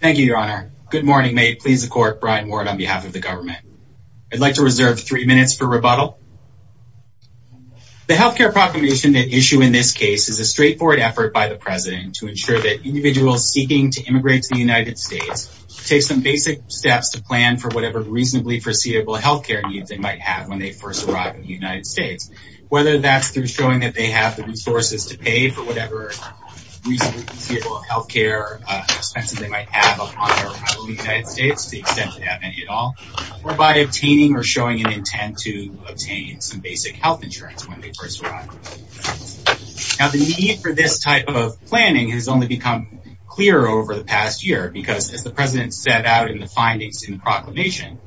Thank you, Your Honor. Good morning. May it please the court, Brian Ward on behalf of the government. I'd like to reserve three minutes for rebuttal. The healthcare proclamation at issue in this case is a straightforward effort by the president to ensure that individuals seeking to immigrate to the United States take some basic steps to plan for whatever reasonably foreseeable healthcare needs they might have when they first arrive in the United States. Whether that's through showing that they have the resources to pay for whatever reasonably foreseeable healthcare expenses they might have upon their arrival in the United States to the extent they have any at all, or by obtaining or showing an intent to obtain some basic health insurance when they first arrive. Now, the need for this type of planning has only become clearer over the past year because, as the president set out in the findings in the proclamation,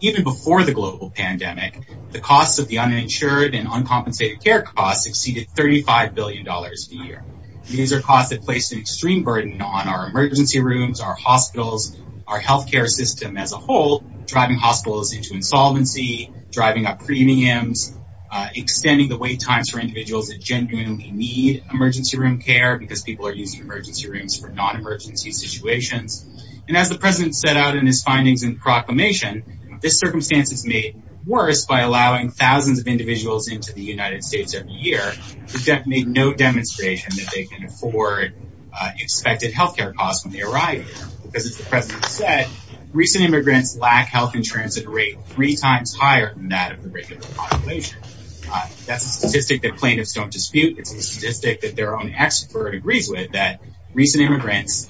even before the global pandemic, the costs of the uninsured and uncompensated care costs exceeded $35 billion a year. These are costs that place an extreme burden on our emergency rooms, our hospitals, our healthcare system as a whole, driving hospitals into insolvency, driving up premiums, extending the wait times for individuals that genuinely need emergency room care because people are using emergency rooms for non-emergency situations. And as the president set out in his findings in the proclamation, this circumstance is made worse by allowing thousands of individuals into the United States every year who have made no demonstration that they can afford expected healthcare costs when they arrive here because, as the president said, recent immigrants lack health insurance at a rate three times higher than that of the regular population. That's a statistic that plaintiffs don't dispute. It's a statistic that their own expert agrees with, that recent immigrants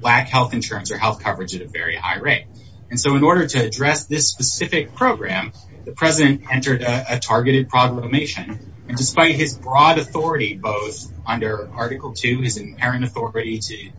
lack health insurance or health coverage at a very high rate. And so in order to address this specific program, the president entered a targeted proclamation. And despite his broad authority, both under Article II, his inherent authority to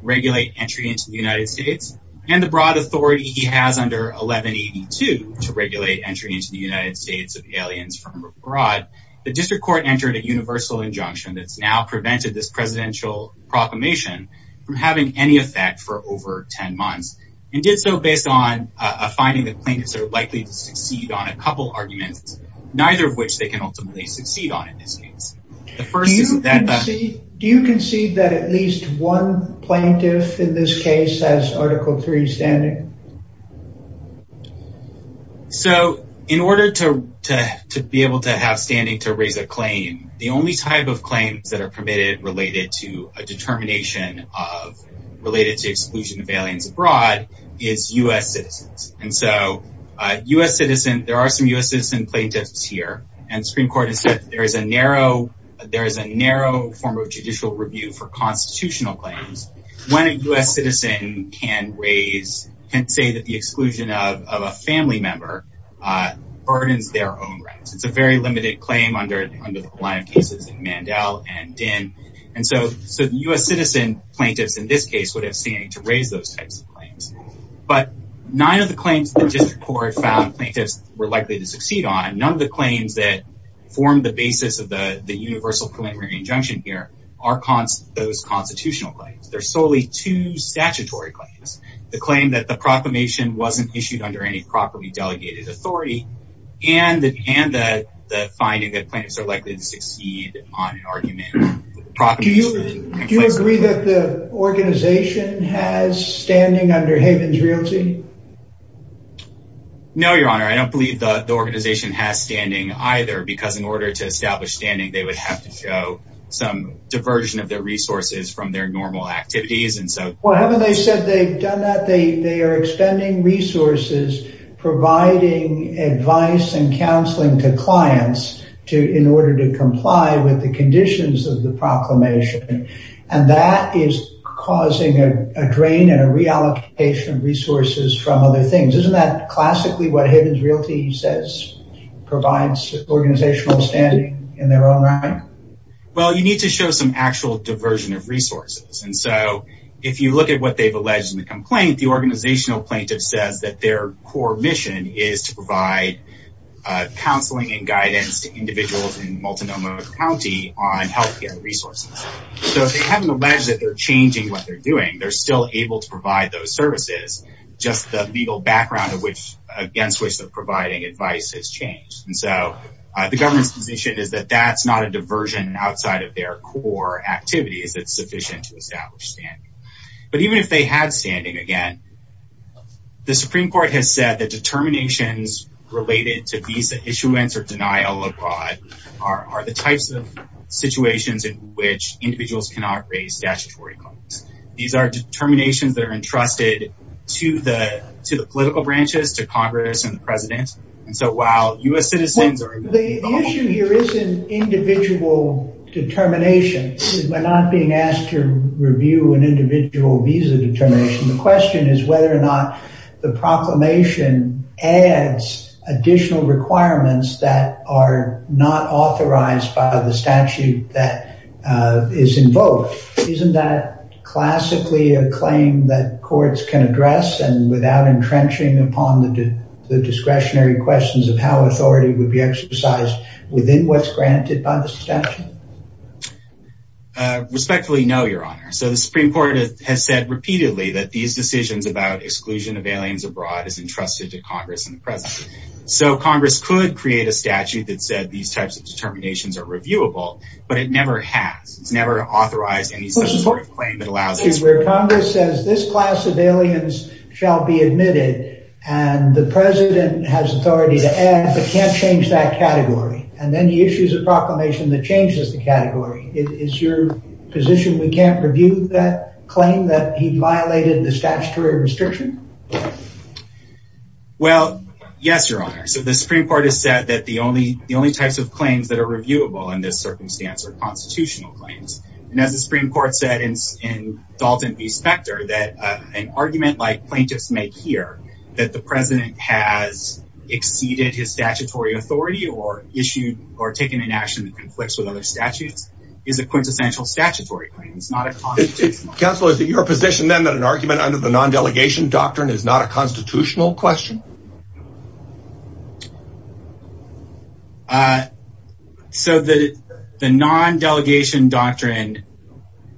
regulate entry into the United States, and the broad authority he has under 1182 to regulate entry into the United States of aliens from abroad, the district court entered a universal injunction that's now prevented this presidential proclamation from having any effect for over 10 months and did so based on a finding that plaintiffs are likely to succeed on a couple arguments, neither of which they can ultimately succeed on in this case. Do you concede that at least one plaintiff in this case has Article III standing? So in order to be able to have standing to raise a claim, the only type of claims that are permitted related to a determination of related to exclusion of aliens abroad is U.S. citizens. And so U.S. citizen, there are some U.S. citizen plaintiffs here and Supreme Court has said that there is a narrow, there is a narrow form of judicial review for constitutional claims. When a U.S. citizen can raise, can say that the exclusion of a family member burdens their own rights. It's a very limited claim under the line of cases in Mandel and Dinh. And so the U.S. citizen plaintiffs in this case would have standing to raise those types of claims the district court found plaintiffs were likely to succeed on. None of the claims that form the basis of the universal preliminary injunction here are those constitutional claims. They're solely two statutory claims. The claim that the proclamation wasn't issued under any properly delegated authority and the finding that plaintiffs are likely to succeed on an argument. Do you agree that the organization has standing under Haven's Realty? No, your honor, I don't believe the organization has standing either, because in order to establish standing, they would have to show some diversion of their resources from their normal activities. And so, well, haven't they said they've done that? They are expending resources, providing advice and counseling to clients to, in order to comply with the conditions of the proclamation. And that is causing a drain and a reallocation of resources from other things. Isn't that classically what Haven's Realty says provides organizational standing in their own right? Well, you need to show some actual diversion of resources. And so if you look at what they've alleged in the complaint, the organizational plaintiff says that their core mission is to provide counseling and guidance to individuals in Multnomah County on healthcare resources. So if they haven't alleged that they're changing what they're doing, they're still able to provide those services, just the legal background against which they're providing advice has changed. And so the government's position is that that's not a diversion outside of their core activities that's sufficient to establish standing. But even if they had standing, again, the Supreme Court has said that determinations related to visa issuance or denial abroad are the types of situations in which individuals cannot raise statutory claims. These are determinations that are entrusted to the political branches, to Congress and the president. And so while U.S. citizens are- The issue here isn't individual determinations. We're not being asked to review an individual visa determination. The question is whether or not the proclamation adds additional requirements that are not authorized by the statute that is invoked. Isn't that classically a claim that courts can address and without entrenching upon the discretionary questions of how authority would be exercised within what's granted by the statute? Respectfully, no, Your Honor. So the Supreme Court has said repeatedly that these decisions about exclusion of aliens abroad is entrusted to Congress and the president. So Congress could create a statute that said these types of determinations are reviewable, but it never has. It's never authorized any such sort of claim that allows- Where Congress says this class of aliens shall be admitted and the president has authority to add, but can't change that category. And then he issues a proclamation that changes the category. Is your position we can't review that claim that he violated the statutory restriction? Well, yes, Your Honor. So the Supreme Court has said that the only types of claims that are reviewable in this circumstance are constitutional claims. And as the Supreme Court said in Dalton v. Specter, that an argument like plaintiffs make here, that the president has exceeded his statutory authority or issued or taken an action that conflicts with other statutes is a quintessential statutory claim. It's not a constitutional claim. Counselor, is it your position then that an argument under the non-delegation doctrine is not a constitutional question? So the non-delegation doctrine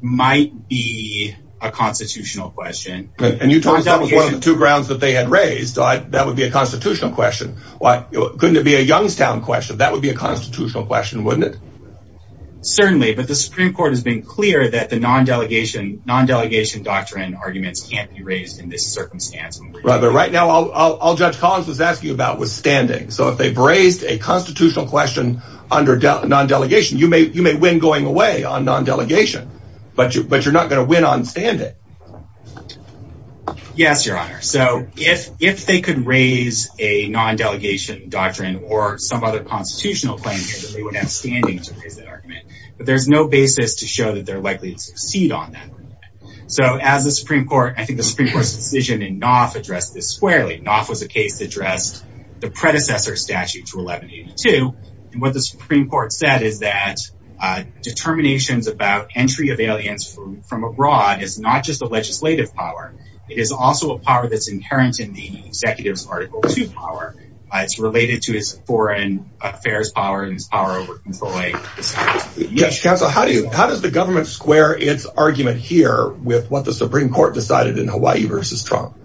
might be a constitutional question. And you told us that was one of the two grounds that they had raised. That would be a constitutional question. Couldn't it be a Youngstown question? That would be a constitutional question, wouldn't it? Certainly. But the Supreme Court has been clear that the non-delegation doctrine arguments can't be raised in this circumstance. Right. But right now, I'll just say that. Judge Collins was asking about was standing. So if they've raised a constitutional question under non-delegation, you may win going away on non-delegation. But you're not going to win on standing. Yes, Your Honor. So if they could raise a non-delegation doctrine or some other constitutional claim here, then they would have standing to raise that argument. But there's no basis to show that they're likely to succeed on that argument. So as the Supreme Court, I think the Supreme Court's decision in Knopf addressed this squarely. Knopf was a case that addressed the predecessor statute to 1182. And what the Supreme Court said is that determinations about entry of aliens from abroad is not just a legislative power. It is also a power that's inherent in the executive's Article II power. It's related to his foreign affairs power and his power over employment. Judge Council, how does the government square its argument here with what the Supreme Court decided in Hawaii versus Trump?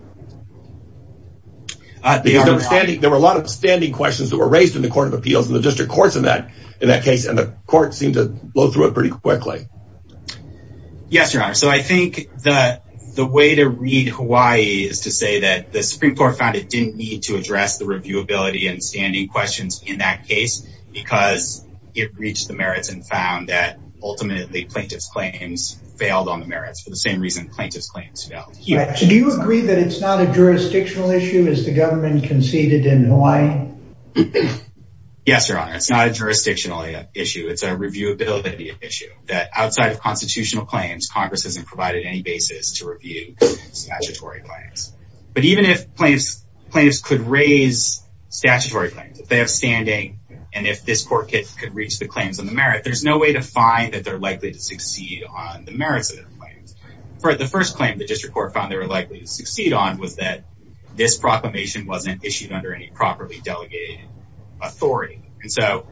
Because there were a lot of standing questions that were raised in the Court of Appeals and the district courts in that case. And the court seemed to blow through it pretty quickly. Yes, Your Honor. So I think that the way to read Hawaii is to say that the Supreme Court found it didn't need to address the reviewability and standing questions in that case because it reached the merits and found that ultimately plaintiff's claims failed on the merits for the same reason plaintiff's claims failed here. Do you agree that it's not a jurisdictional issue as the government conceded in Hawaii? Yes, Your Honor. It's not a jurisdictional issue. It's a reviewability issue that outside of constitutional claims, Congress hasn't provided any basis to review statutory claims. But even if plaintiffs could raise statutory claims, if they have standing, and if this court could reach the claims on the merit, there's no way to find that they're likely to succeed on the merits of their claims. For the first claim, the district court found they were likely to succeed on was that this proclamation wasn't issued under any properly delegated authority. And so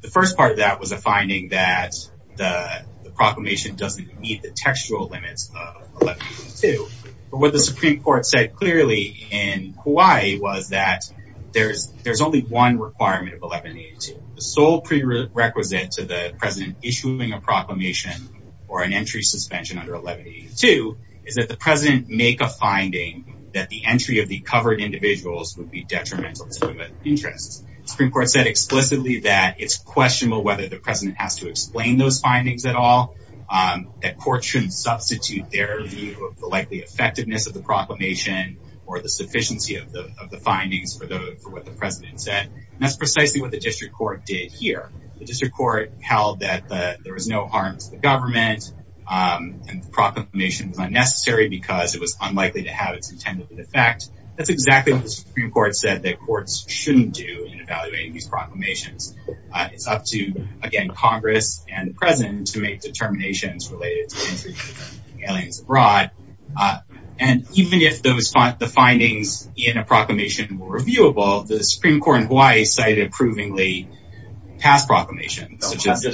the first part of that was a finding that the proclamation doesn't meet the textual limits of 1182. But what the Supreme Court said clearly in Hawaii was that there's only one requirement of 1182, the sole prerequisite to the president issuing a proclamation or an entry suspension under 1182 is that the president make a finding that the entry of the covered individuals would be detrimental to the interest. Supreme Court said explicitly that it's questionable whether the president has to explain those findings at all. That court shouldn't substitute their view of the likely effectiveness of the proclamation or the sufficiency of the findings for what the president said. That's precisely what the district court did here. The district court held that there was no harm to the government and the proclamation was unnecessary because it was unlikely to have its intended effect. That's exactly what the Supreme Court said that courts shouldn't do in evaluating these proclamations. It's up to, again, Congress and the president to make determinations related to aliens abroad. And even if the findings in a proclamation were reviewable, the Supreme Court in Hawaii cited approvingly past proclamations, such as the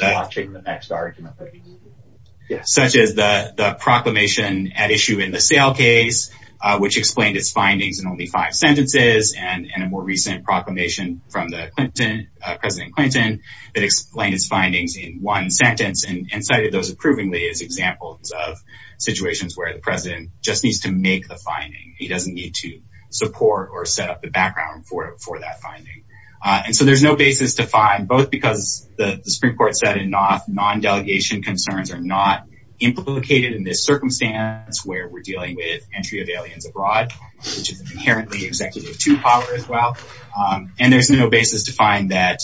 proclamation at issue in the sale case, which explained its findings in only five sentences, and a more recent proclamation from President Clinton that explained his findings in one sentence and cited those approvingly as examples of situations where the president just needs to make the finding. He doesn't need to support or set up the background for that finding. And so there's no basis to find, both because the Supreme Court said enough non-delegation concerns are not implicated in this circumstance where we're dealing with entry of aliens abroad, which is inherently executive to power as well. And there's no basis to find that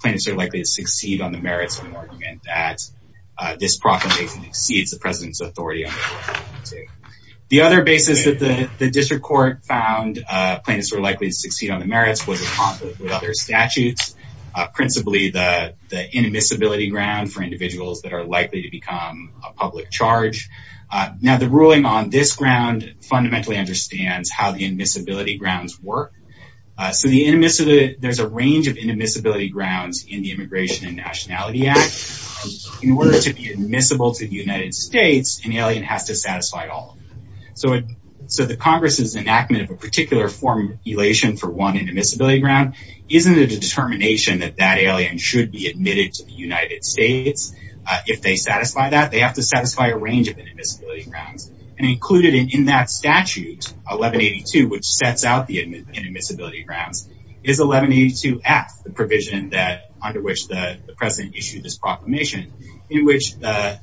plaintiffs are likely to succeed on the merits of an argument that this proclamation exceeds the president's authority. The other basis that the district court found plaintiffs were likely to succeed on the merits with other statutes, principally the inadmissibility ground for individuals that are likely to become a public charge. Now, the ruling on this ground fundamentally understands how the admissibility grounds work. So there's a range of inadmissibility grounds in the Immigration and Nationality Act. In order to be admissible to the United States, an alien has to satisfy all of them. So the Congress's enactment of a particular form of elation for one inadmissibility ground isn't a determination that that alien should be admitted to the United States. If they satisfy that, they have to satisfy a range of inadmissibility grounds. And included in that statute, 1182, which sets out the inadmissibility grounds, is 1182F, the provision under which the president issued this proclamation, in which the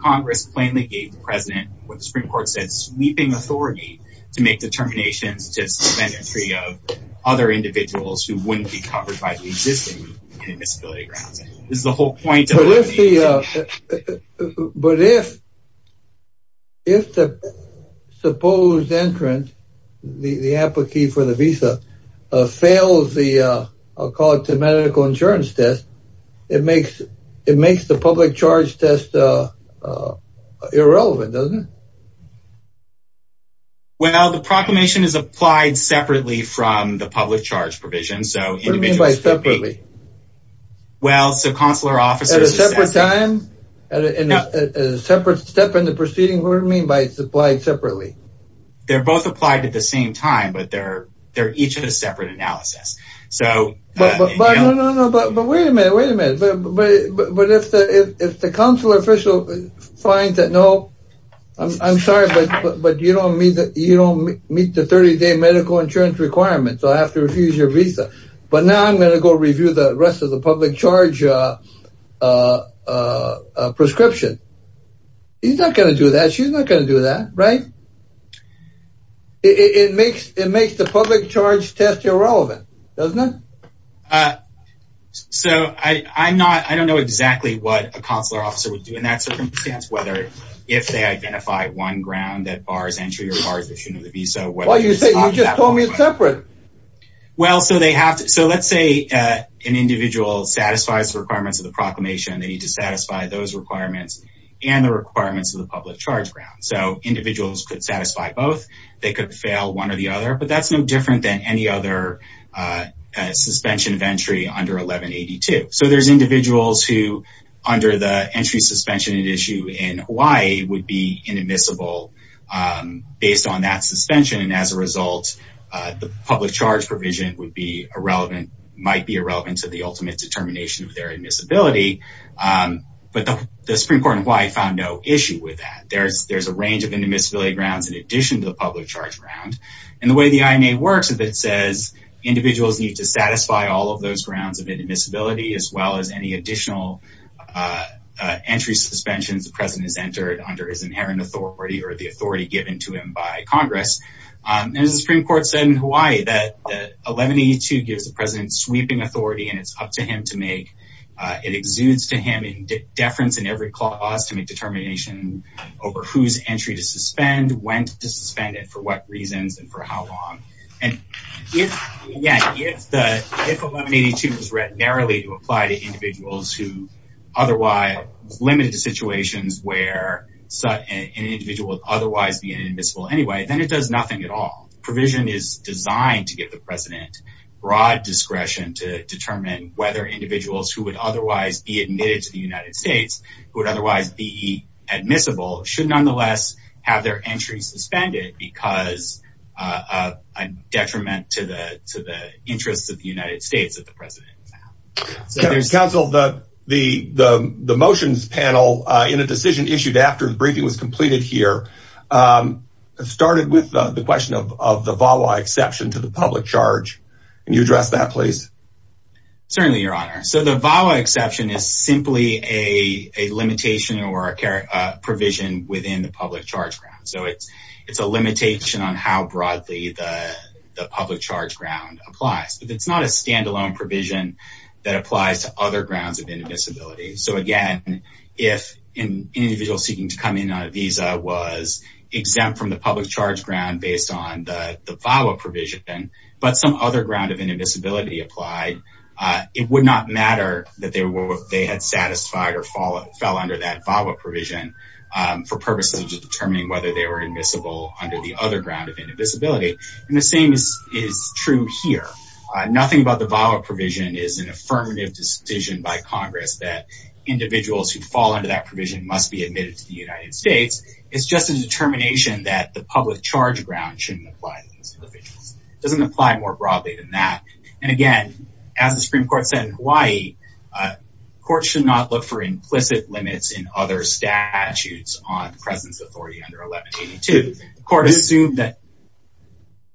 Congress plainly gave the president, what the Supreme Court said, sweeping authority to make determinations to suspend entry of other individuals who wouldn't be covered by the existing inadmissibility grounds. This is the whole point. But if the supposed entrant, the appliquee for the visa, fails the, I'll call it the proclamation, it's irrelevant, doesn't it? Well, the proclamation is applied separately from the public charge provision. So what do you mean by separately? Well, so consular officers... At a separate time, at a separate step in the proceeding, what do you mean by it's applied separately? They're both applied at the same time, but they're each in a separate analysis. So... But no, no, no, but wait a minute, wait a minute. But if the consular official finds that, no, I'm sorry, but you don't meet the 30-day medical insurance requirement, so I have to refuse your visa. But now I'm going to go review the rest of the public charge prescription. He's not going to do that. She's not going to do that, right? It makes the public charge test irrelevant, doesn't it? Uh, so I, I'm not, I don't know exactly what a consular officer would do in that circumstance, whether if they identify one ground that bars entry or bars the issue of the visa. Well, you just told me it's separate. Well, so they have to, so let's say, uh, an individual satisfies the requirements of the proclamation, they need to satisfy those requirements and the requirements of the public charge ground. So individuals could satisfy both, they could fail one or the other, but that's no different than any other, uh, uh, suspension of entry under 1182. So there's individuals who under the entry suspension at issue in Hawaii would be inadmissible, um, based on that suspension. And as a result, uh, the public charge provision would be irrelevant, might be irrelevant to the ultimate determination of their admissibility. Um, but the Supreme Court in Hawaii found no issue with that. There's, there's a range of inadmissibility grounds in addition to the public charge round and the way the INA works. If it says individuals need to satisfy all of those grounds of inadmissibility, as well as any additional, uh, uh, entry suspensions, the president has entered under his inherent authority or the authority given to him by Congress. Um, and as the Supreme Court said in Hawaii, that 1182 gives the president sweeping authority and it's up to him to make, uh, it exudes to him in deference in every clause to make a determination over whose entry to suspend, when to suspend it, for what reasons and for how long. And if, yeah, if the, if 1182 was read narrowly to apply to individuals who otherwise limited to situations where an individual would otherwise be inadmissible anyway, then it does nothing at all. Provision is designed to give the president broad discretion to determine whether individuals who would otherwise be admitted to the United States, who would otherwise be admissible, should nonetheless have their entry suspended because, uh, uh, a detriment to the, to the interests of the United States that the president is now. So there's... Counsel, the, the, the, the motions panel, uh, in a decision issued after the briefing was completed here, um, started with, uh, the question of, of the VAWA exception to the public charge. Can you address that please? Certainly, your honor. So the VAWA exception is simply a, a limitation or a care, uh, provision within the public charge ground. So it's, it's a limitation on how broadly the, the public charge ground applies, but it's not a standalone provision that applies to other grounds of inadmissibility. So again, if an individual seeking to come in on a visa was exempt from the public charge ground based on the VAWA provision, but some other ground of inadmissibility applied, uh, it would not matter that they were, they had satisfied or fall, fell under that VAWA provision, um, for purposes of determining whether they were admissible under the other ground of inadmissibility. And the same is, is true here. Nothing about the VAWA provision is an affirmative decision by Congress that individuals who fall under that provision must be admitted to the United States. It's just a determination that the public charge ground shouldn't apply to these individuals. It doesn't apply more broadly than that. And again, as the Supreme Court said in Hawaii, uh, courts should not look for implicit limits in other statutes on the president's authority under 1182. The court assumed that...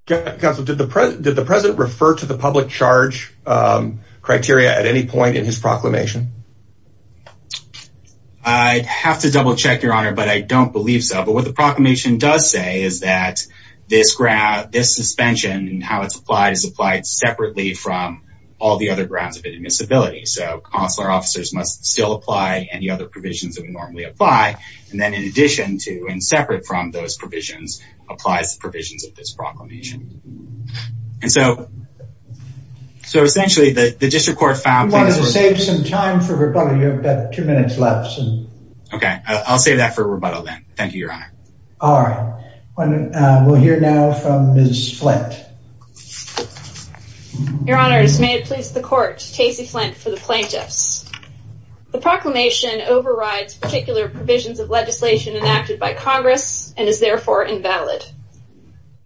Counselor, did the president, did the president refer to the public charge, um, criteria at any point in his proclamation? I'd have to double check your honor, but I don't believe so. But what the proclamation does say is that this ground, this suspension and how it's applied, is applied separately from all the other grounds of inadmissibility. So consular officers must still apply any other provisions that we normally apply. And then in addition to, and separate from those provisions, applies the provisions of this proclamation. And so, so essentially the, the district court found... I wanted to save some time for rebuttal. You have about two minutes left. Okay. I'll save that for rebuttal then. Thank you, your honor. All right. We'll hear now from Ms. Flint. Your honors, may it please the court. Casey Flint for the plaintiffs. The proclamation overrides particular provisions of legislation enacted by Congress and is therefore invalid.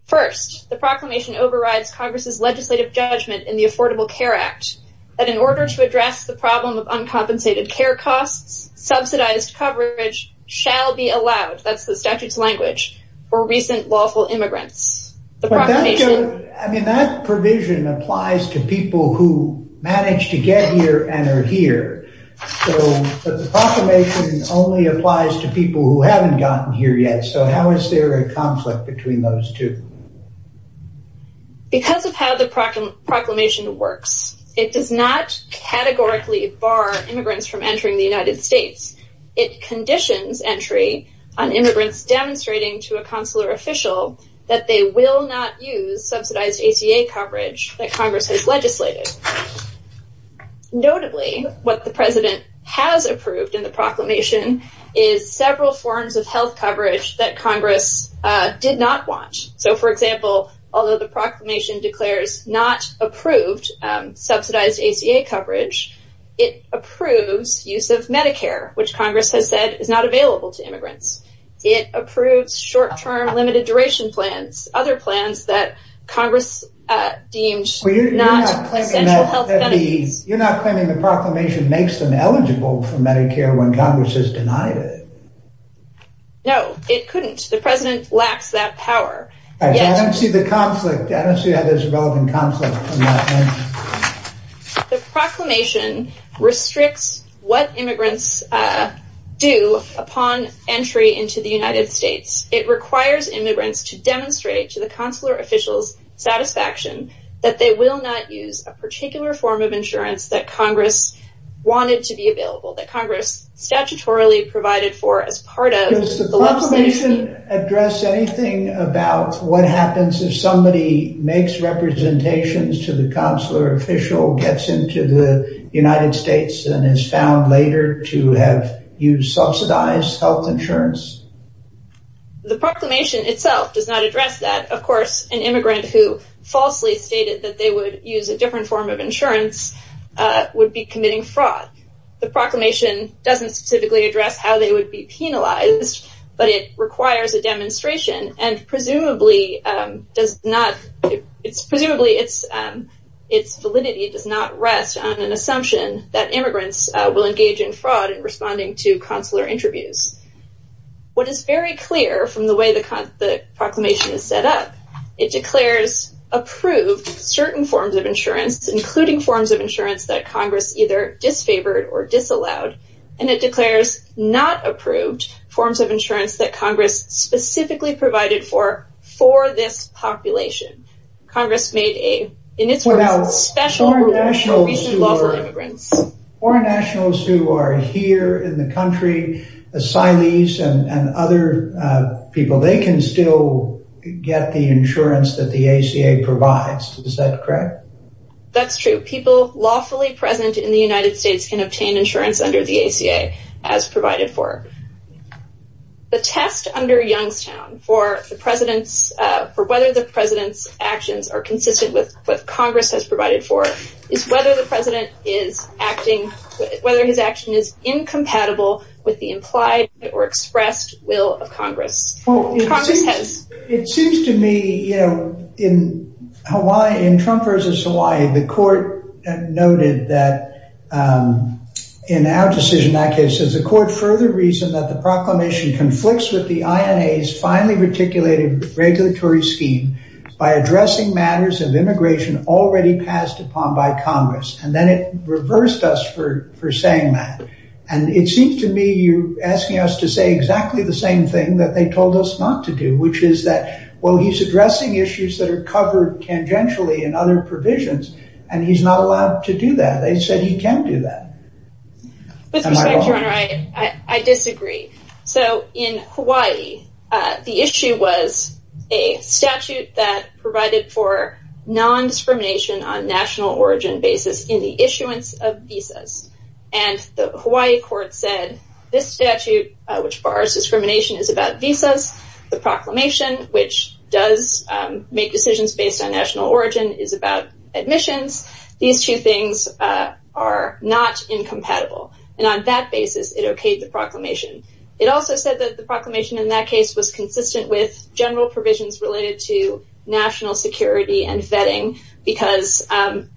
First, the proclamation overrides Congress's legislative judgment in the Affordable Care Act that in order to address the problem of uncompensated care costs, subsidized coverage shall be allowed, that's the statute's language, for recent lawful immigrants. The proclamation... I mean, that provision applies to people who managed to get here and are here. So, but the proclamation only applies to people who haven't gotten here yet. So how is there a conflict between those two? Because of how the proclamation works, it does not categorically bar immigrants from entering the United States. It conditions entry on immigrants demonstrating to a consular official that they will not use subsidized ACA coverage that Congress has legislated. Notably, what the president has approved in the proclamation is several forms of health coverage that Congress did not want. So, for example, although the proclamation declares not approved subsidized ACA coverage, it approves use of Medicare, which Congress has said is not available to immigrants. It approves short-term limited duration plans, other plans that Congress deemed not essential health benefits. You're not claiming the proclamation makes them eligible for Medicare when Congress has denied it? No, it couldn't. The president lacks that power. I don't see the conflict. I don't see how there's a relevant conflict in that. The proclamation restricts what immigrants do upon entry into the United States. It requires immigrants to demonstrate to the consular official's satisfaction that they will not use a particular form of insurance that Congress wanted to be available, that Congress statutorily provided for as part of the legislation. Does the proclamation address anything about what happens if somebody makes representations to the consular official, gets into the United States, and is found later to have used subsidized health insurance? The proclamation itself does not address that. Of course, an immigrant who falsely stated that they would use a different form of insurance would be committing fraud. The proclamation doesn't specifically address how they would be penalized, but it requires a demonstration, and presumably its validity does not rest on an assumption that immigrants will engage in fraud in responding to consular interviews. What is very clear from the way the proclamation is set up, it declares approved certain forms of insurance, including forms of insurance that Congress either disfavored or disallowed, and it declares not approved forms of insurance that Congress specifically provided for this population. Foreign nationals who are here in the country, asylees and other people, they can still get the insurance that the ACA provides. Is that correct? That's true. People lawfully present in the United States can obtain insurance under the ACA as provided for. The test under Youngstown for whether the president's actions are consistent with what Congress has provided for is whether the president is acting, whether his action is incompatible with the implied or expressed will of Congress. Well, it seems to me, you know, in Hawaii, in Trump versus Hawaii, the court noted that in our decision, that case is a court further reason that the proclamation conflicts with the INA's finely articulated regulatory scheme by addressing matters of immigration already passed upon by Congress, and then it reversed us for saying that, and it seems to me you're which is that, well, he's addressing issues that are covered tangentially in other provisions, and he's not allowed to do that. They said he can do that. With respect, your honor, I disagree. So in Hawaii, the issue was a statute that provided for non-discrimination on national origin basis in the issuance of visas, and the Hawaii court said this statute, which the proclamation, which does make decisions based on national origin, is about admissions. These two things are not incompatible, and on that basis, it okayed the proclamation. It also said that the proclamation in that case was consistent with general provisions related to national security and vetting because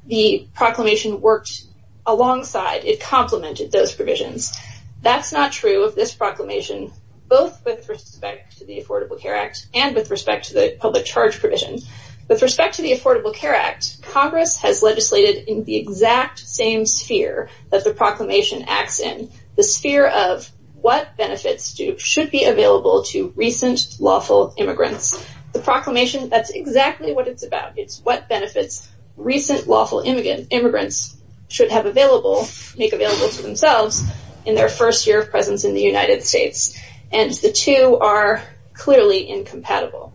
the proclamation worked alongside. It complemented those provisions. That's not true of this proclamation, both with respect to the Affordable Care Act and with respect to the public charge provision. With respect to the Affordable Care Act, Congress has legislated in the exact same sphere that the proclamation acts in, the sphere of what benefits should be available to recent lawful immigrants. The proclamation, that's exactly what it's about. It's what benefits recent lawful immigrants should have available, make available to themselves in their first year of presence in the United States, and the two are clearly incompatible.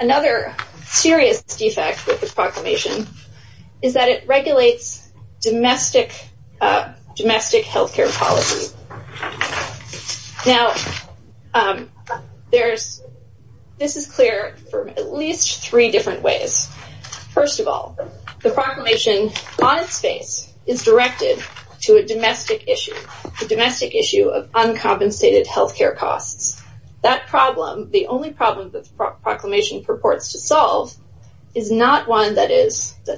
Another serious defect with the proclamation is that it regulates domestic healthcare policy. Now, this is clear from at least three different ways. First of all, the proclamation on its face is directed to a domestic issue, a domestic issue of uncompensated healthcare costs. That problem, the only problem that the proclamation purports to solve, is not one that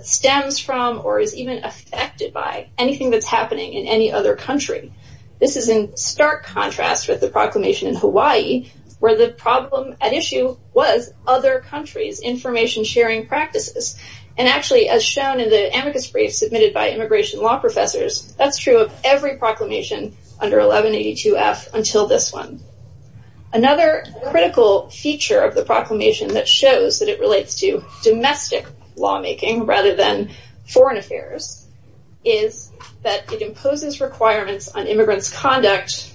stems from or is even affected by anything that's happening in any other country. This is in stark contrast with the proclamation in Hawaii, where the problem at issue was other countries' information-sharing practices. And actually, as shown in the amicus brief submitted by immigration law professors, that's true of every proclamation under 1182F until this one. Another critical feature of the proclamation that shows that it relates to domestic lawmaking rather than foreign affairs is that it imposes requirements on immigrants' conduct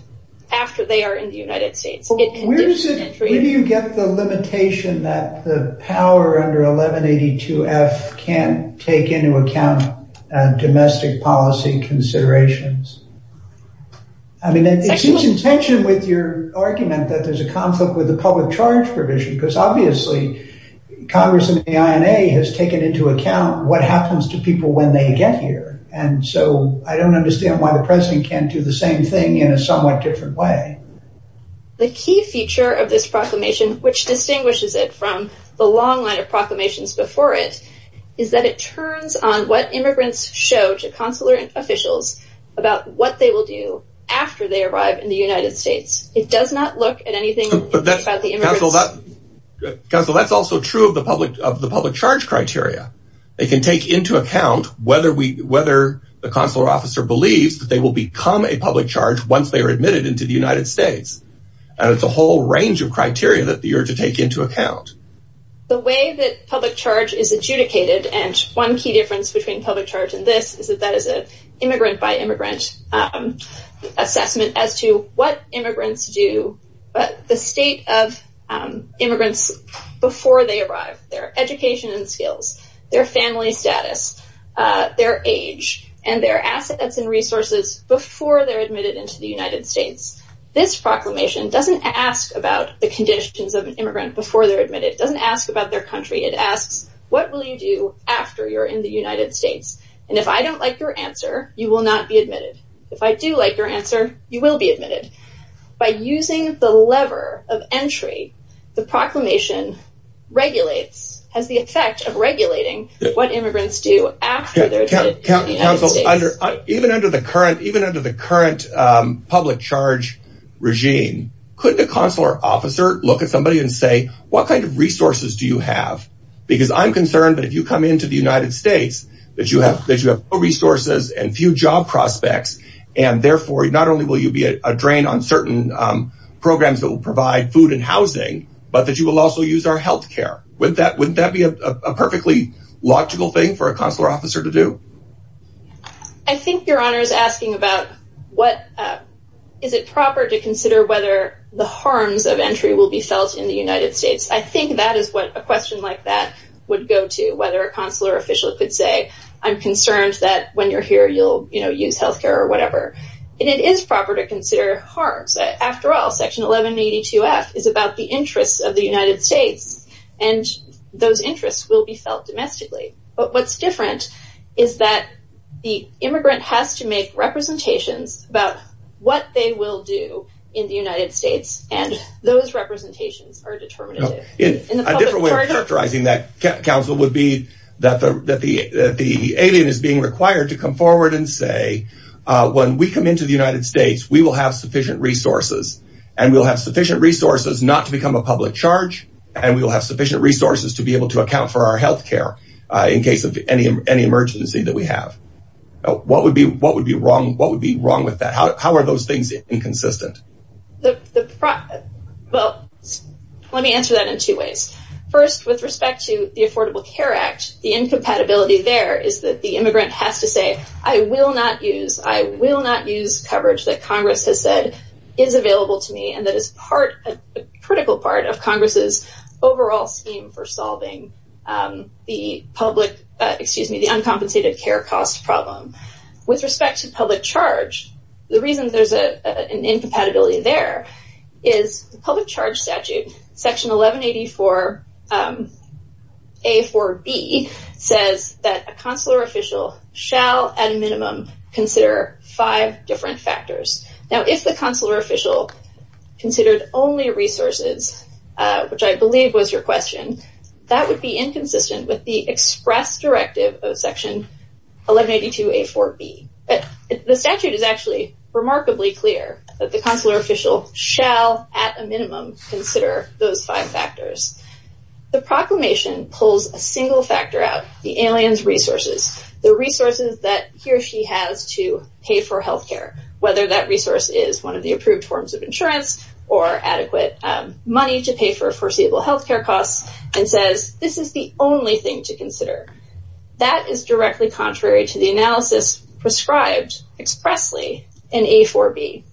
after they are in the United States. So where do you get the limitation that the power under 1182F can't take into account domestic policy considerations? I mean, it seems in tension with your argument that there's a conflict with the public charge provision, because obviously, Congress and the INA has taken into account what happens to people when they get here. And so I don't understand why the president can't do the same thing in a somewhat different way. The key feature of this proclamation, which distinguishes it from the long line of proclamations before it, is that it turns on what immigrants show to consular officials about what they will do after they arrive in the United States. It does not look at anything about the immigrants. Counselor, that's also true of the public charge criteria. They can take into account whether the consular officer believes that they will become a public charge once they are admitted into the United States. And it's a whole range of criteria that you're to take into account. The way that public charge is adjudicated, and one key difference between public charge and this, is that that is an immigrant-by-immigrant assessment as to what immigrants do, the state of immigrants before they arrive, their education and skills, their family status, their age, and their assets and resources before they're admitted into the United States. This proclamation doesn't ask about the conditions of an immigrant before they're admitted. It doesn't ask about their country. It asks, what will you do after you're in the United States? And if I don't like your answer, you will not be admitted. If I do like your answer, you will be admitted. By using the lever of entry, the proclamation regulates, has the effect of regulating what immigrants do after they're admitted to the United States. Even under the current public charge regime, couldn't a consular officer look at somebody and say, what kind of resources do you have? Because I'm concerned that if you come into the United States, that you have no resources and few job prospects. And therefore, not only will you be a drain on certain programs that will provide food and housing, but that you will also use our health care. Wouldn't that be a perfectly logical thing for a consular officer to do? I think Your Honor is asking about, is it proper to consider whether the harms of entry will be felt in the United States? I think that is what a question like that would go to, whether a consular official could say, I'm concerned that when you're here, you'll use health care or whatever. And it is proper to consider harms. After all, Section 1182F is about the interests of the United States, and those interests will be felt domestically. But what's different is that the immigrant has to make representations about what they will do in the United States. And those representations are determinative. A different way of characterizing that, counsel, would be that the alien is being required to come forward and say, when we come into the United States, we will have sufficient resources. And we'll have sufficient resources not to become a public charge, and we will have sufficient resources to be able to account for our health care in case of any emergency that we have. What would be wrong with that? How are those things inconsistent? Well, let me answer that in two ways. First, with respect to the Affordable Care Act, the incompatibility there is that the immigrant has to say, I will not use coverage that Congress has said is available to me and that is a critical part of Congress's overall scheme for solving the uncompensated care cost problem. With respect to public charge, the reason there's an incompatibility there is the public charge statute, section 1184A4B, says that a consular official shall, at a minimum, consider five different factors. Now, if the consular official considered only resources, which I believe was your question, that would be inconsistent with the express directive of section 1182A4B. The statute is actually remarkably clear that the consular official shall, at a minimum, consider those five factors. The proclamation pulls a single factor out, the alien's resources, the resources that he or she has to pay for health care, whether that resource is one of the approved forms of insurance or adequate money to pay for foreseeable health care costs, and says this is the only thing to consider. That is directly contrary to the analysis prescribed expressly in A4B.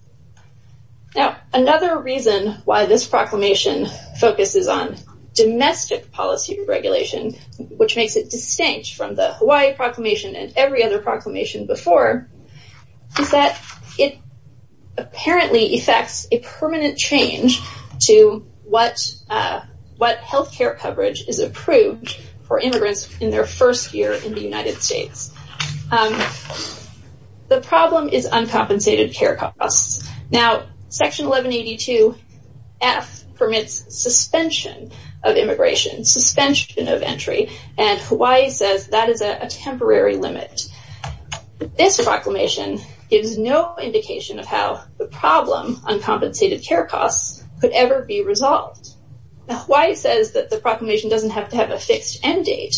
Now, another reason why this proclamation focuses on domestic policy regulation, which makes it distinct from the Hawaii proclamation and every other proclamation before, is that it apparently affects a permanent change to what health care coverage is approved for immigrants in their first year in the United States. The problem is uncompensated care costs. Now, section 1182F permits suspension of immigration, suspension of entry, and Hawaii says that is a temporary limit. This proclamation gives no indication of how the problem, uncompensated care costs, could ever be resolved. Now, Hawaii says that the proclamation doesn't have to have a fixed end date,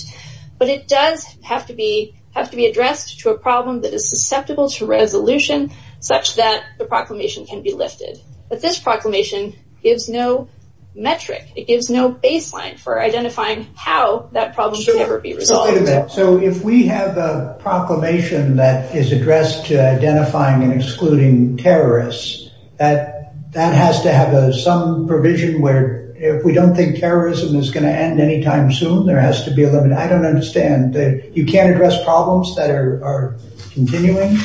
but it does have to be addressed to a problem that is susceptible to resolution such that the proclamation can be lifted. But this proclamation gives no metric. It gives no baseline for identifying how that problem could ever be resolved. So if we have a proclamation that is addressed to identifying and excluding terrorists, that has to have some provision where if we don't think terrorism is going to end anytime soon, there has to be a limit. I don't understand. You can't address problems that are continuing?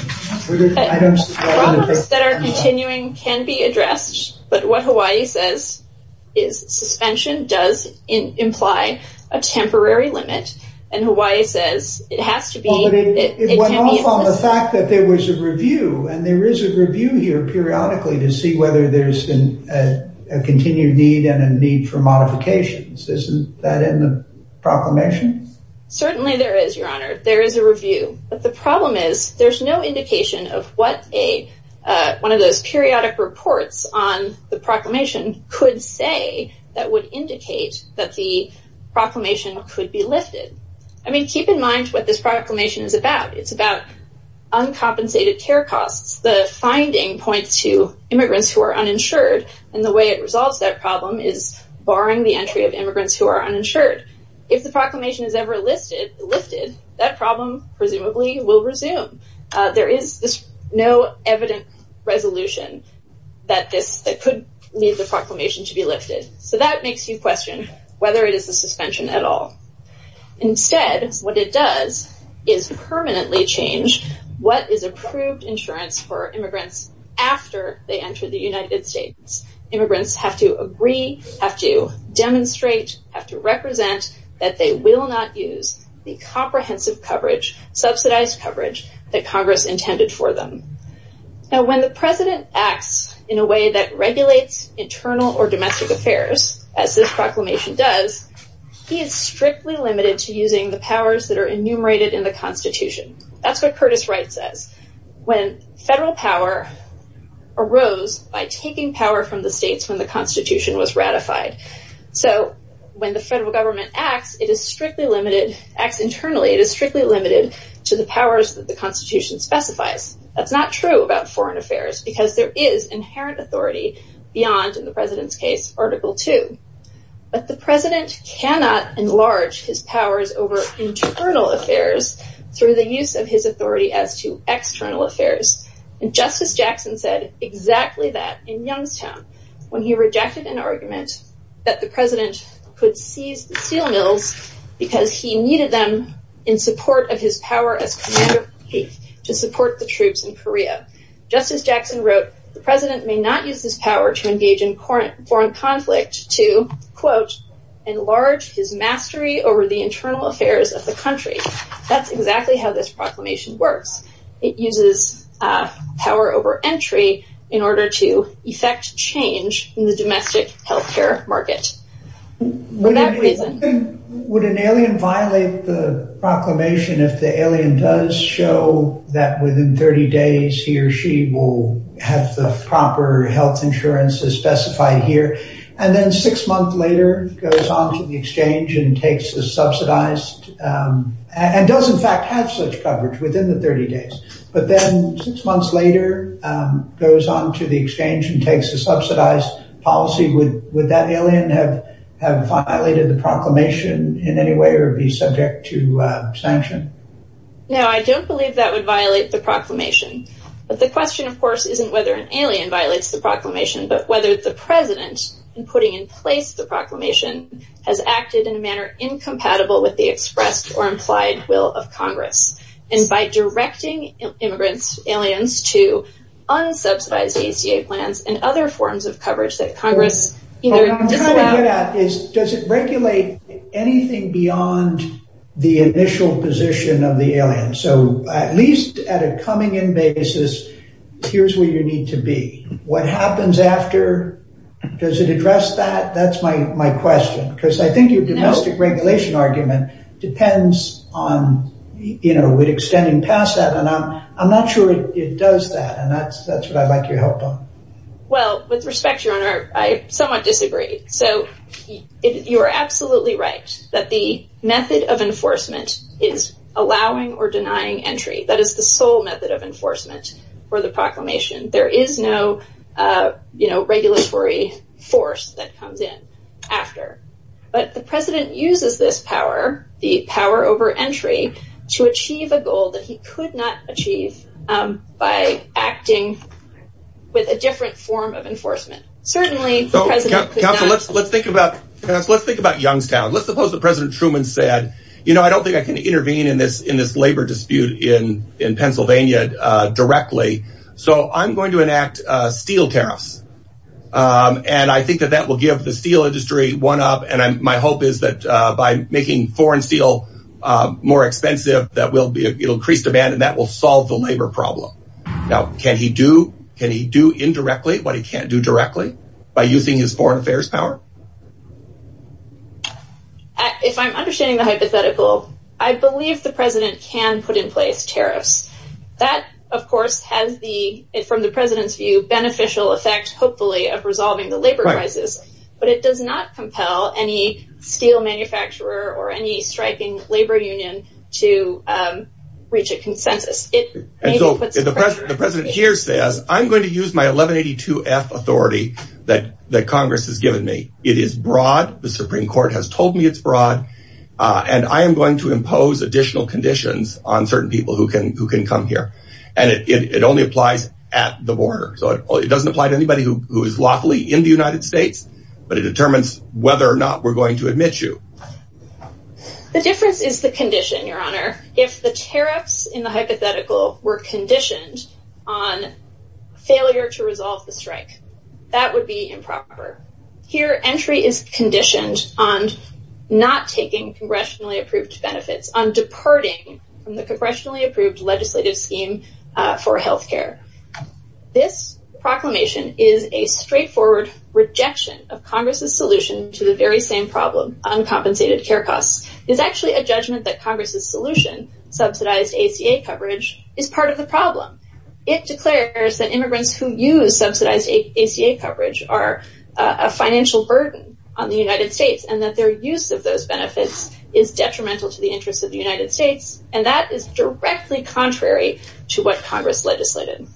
Problems that are continuing can be addressed, but what Hawaii says is suspension does imply a temporary limit, and Hawaii says it has to be... Well, but it went off on the fact that there was a review, and there is a review here periodically to see whether there's a continued need and a need for modifications. Isn't that in the proclamation? Certainly there is, Your Honor. There is a review, but the problem is there's no indication of what one of those periodic reports on the proclamation could say that would indicate that the proclamation could be lifted. I mean, keep in mind what this proclamation is about. It's about uncompensated care costs. The finding points to immigrants who are uninsured, and the way it resolves that problem is barring the entry of immigrants who are uninsured. If the proclamation is ever lifted, that problem presumably will resume. There is no evident resolution that could lead the proclamation to be lifted. So that makes you question whether it is a suspension at all. Instead, what it does is permanently change what is approved insurance for immigrants after they enter the United States. Immigrants have to agree, have to demonstrate, have to represent that they will not use the comprehensive coverage, subsidized coverage that Congress intended for them. Now, when the president acts in a way that regulates internal or domestic affairs, as this proclamation does, he is strictly limited to using the powers that are enumerated in the Constitution. That's what Curtis Wright says. When federal power arose by taking power from the states when the Constitution was ratified. So when the federal government acts, it is strictly limited, acts internally, it is strictly limited to the powers that the Constitution specifies. That's not true about foreign affairs because there is inherent authority beyond, in the president's case, Article 2. But the president cannot enlarge his powers over internal affairs through the use of his authority as to external affairs. Justice Jackson said exactly that in Youngstown when he rejected an argument that the president could seize the steel mills because he needed them in support of his power as commuter to support the troops in Korea. Justice Jackson wrote, the president may not use this power to engage in foreign conflict to, quote, enlarge his mastery over the internal affairs of the country. That's exactly how this proclamation works. It uses power over entry in order to effect change in the domestic health care market. Would an alien violate the proclamation if the alien does show that within 30 days he or she will have the proper health insurance as specified here and then six months later goes on to the exchange and takes the subsidized and does in fact have such coverage within the 30 days. But then six months later goes on to the exchange and takes a subsidized policy. Would that alien have violated the proclamation in any way or be subject to sanction? No, I don't believe that would violate the proclamation. But the question, of course, isn't whether an alien violates the proclamation, but whether the president in putting in place the proclamation has acted in a manner incompatible with the expressed or implied will of Congress. And by directing immigrants, aliens to unsubsidized ACA plans and other forms of coverage that Congress, you know, does it regulate anything beyond the initial position of the alien? So at least at a coming in basis, here's where you need to be. What happens after? Does it address that? That's my question, because I think your domestic regulation argument depends on, you know, extending past that. And I'm not sure it does that. And that's what I'd like your help on. Well, with respect, your honor, I somewhat disagree. So you are absolutely right that the method of enforcement is allowing or denying entry. That is the sole method of enforcement for the proclamation. There is no, you know, regulatory force that comes in after. But the president uses this power, the power over entry, to achieve a goal that he could not achieve by acting with a different form of enforcement. Certainly, the president does not. Counsel, let's think about Youngstown. Let's suppose that President Truman said, you know, I don't think I can intervene in this labor dispute in Pennsylvania directly. So I'm going to enact steel tariffs. And I think that that will give the steel industry one up. And my hope is that by making foreign steel more expensive, that it'll increase demand and that will solve the labor problem. Now, can he do indirectly what he can't do directly by using his foreign affairs power? If I'm understanding the hypothetical, I believe the president can put in place tariffs. That, of course, has the, from the president's view, beneficial effect, hopefully, of resolving the labor crisis. But it does not compel any steel manufacturer or any striking labor union to reach a consensus. The president here says, I'm going to use my 1182-F authority that Congress has given me. It is broad. The Supreme Court has told me it's broad. And I am going to impose additional conditions on certain people who can come here. And it only applies at the border. So it doesn't apply to anybody who is lawfully in the United States. But it determines whether or not we're going to admit you. The difference is the condition, Your Honor. If the tariffs in the hypothetical were conditioned on failure to resolve the strike, that would be improper. Here, entry is conditioned on not taking congressionally approved benefits, on departing from the congressionally approved legislative scheme for health care. This proclamation is a straightforward rejection of Congress's solution to the very same problem, uncompensated care costs. It's actually a judgment that Congress's solution, subsidized ACA coverage, is part of the problem. It declares that immigrants who use subsidized ACA coverage are a financial burden on the United States and that their use of those benefits is detrimental to the interests of the United States. And that is directly contrary to what Congress legislated.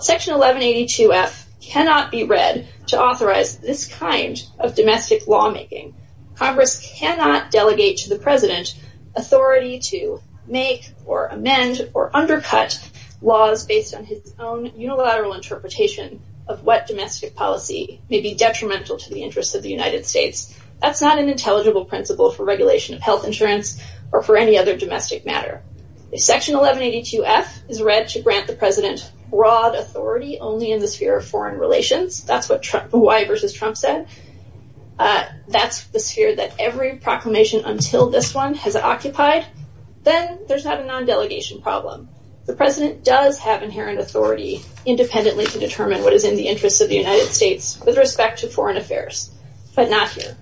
Section 1182-F cannot be read to authorize this kind of domestic lawmaking. Congress cannot delegate to the president authority to make or amend or undercut laws based on his own unilateral interpretation of what domestic policy may be detrimental to the interests of the United States. That's not an intelligible principle for regulation of health insurance or for any other domestic matter. If Section 1182-F is read to grant the president broad authority only in the sphere of foreign relations, that's what the why versus Trump said, that's the sphere that every proclamation until this one has occupied, then there's not a non-delegation problem. The president does have inherent authority independently to determine what is in the interests of the United States with respect to foreign affairs, but not here.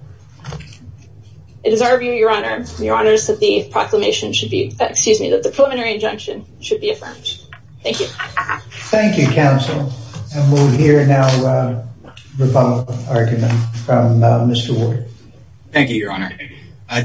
It is our view, your honor, your honors, that the proclamation should be, excuse me, that the preliminary injunction should be affirmed. Thank you. Thank you, counsel. And we'll hear now the follow-up argument from Mr. Ward. Thank you, your honor.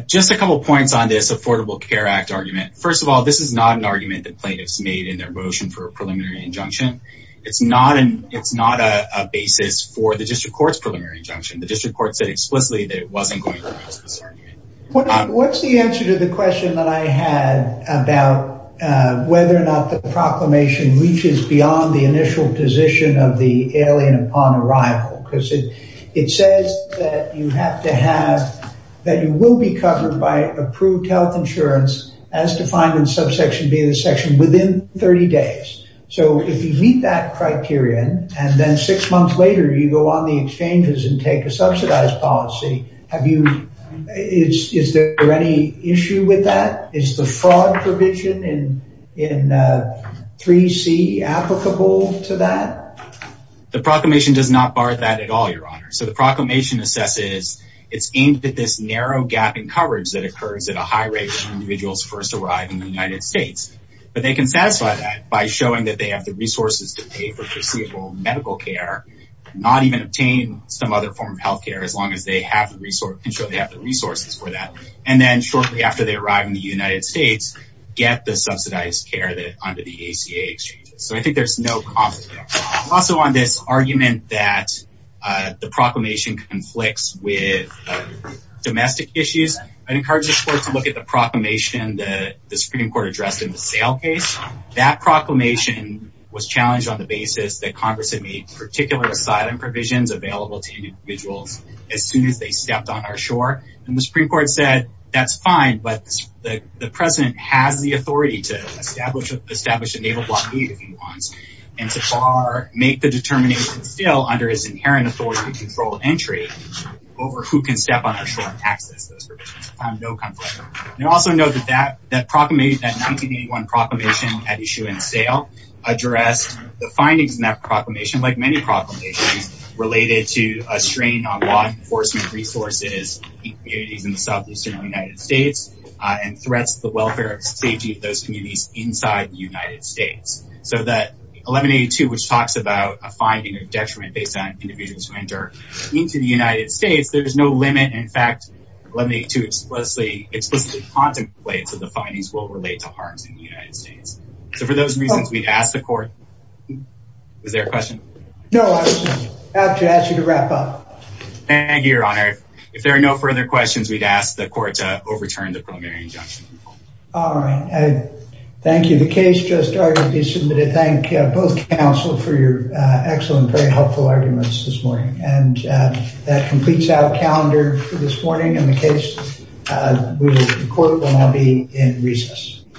Just a couple points on this Affordable Care Act argument. First of all, this is not an argument that plaintiffs made in their motion for a preliminary injunction. It's not a basis for the district court's preliminary injunction. The district court said explicitly that it wasn't going to address this argument. What's the answer to the question that I had about whether or not the proclamation reaches beyond the initial position of the alien upon arrival? Because it says that you have to have, that you will be covered by approved health insurance as defined in subsection B of the section within 30 days. So if you meet that criterion, and then six months later, you go on the exchanges and take a subsidized policy, have you, is there any issue with that? Is the fraud provision in 3C applicable to that? The proclamation does not bar that at all, your honor. So the proclamation assesses, it's aimed at this narrow gap in coverage that occurs at a high rate when individuals first arrive in the United States. But they can satisfy that by showing that they have the resources to pay for foreseeable medical care, not even obtain some other form of health care, as long as they can show they have the resources for that. And then shortly after they arrive in the United States, get the subsidized care under the ACA exchanges. So I think there's no conflict there. Also on this argument that the proclamation conflicts with domestic issues, I'd encourage the court to look at the proclamation that the Supreme Court addressed in the sale case. That proclamation was challenged on the basis that Congress had made particular asylum provisions available to individuals as soon as they stepped on our shore. And the Supreme Court said, that's fine. But the president has the authority to establish a naval blockade if he wants, and to bar, make the determination still under his inherent authority to control entry over who can step on our shore and access those provisions. So I have no conflict. And also note that that proclamation, that 1981 proclamation at issue and sale, addressed the findings in that proclamation, like many proclamations, related to a strain on law enforcement resources in communities in the southeastern United States, and threats to the welfare and safety of those communities inside the United States. So that 1182, which talks about a finding of detriment based on individuals who enter into the United States, there's no limit. In fact, 1182 explicitly contemplates that the findings will relate to harms in the United States. So for those reasons, we'd ask the court. Is there a question? No, I was just about to ask you to wrap up. Thank you, Your Honor. If there are no further questions, we'd ask the court to overturn the preliminary injunction. All right. Thank you. The case just started. It's time to thank both counsel for your excellent, very helpful arguments this morning. And that completes our calendar for this morning. In the case, the court will now be in recess.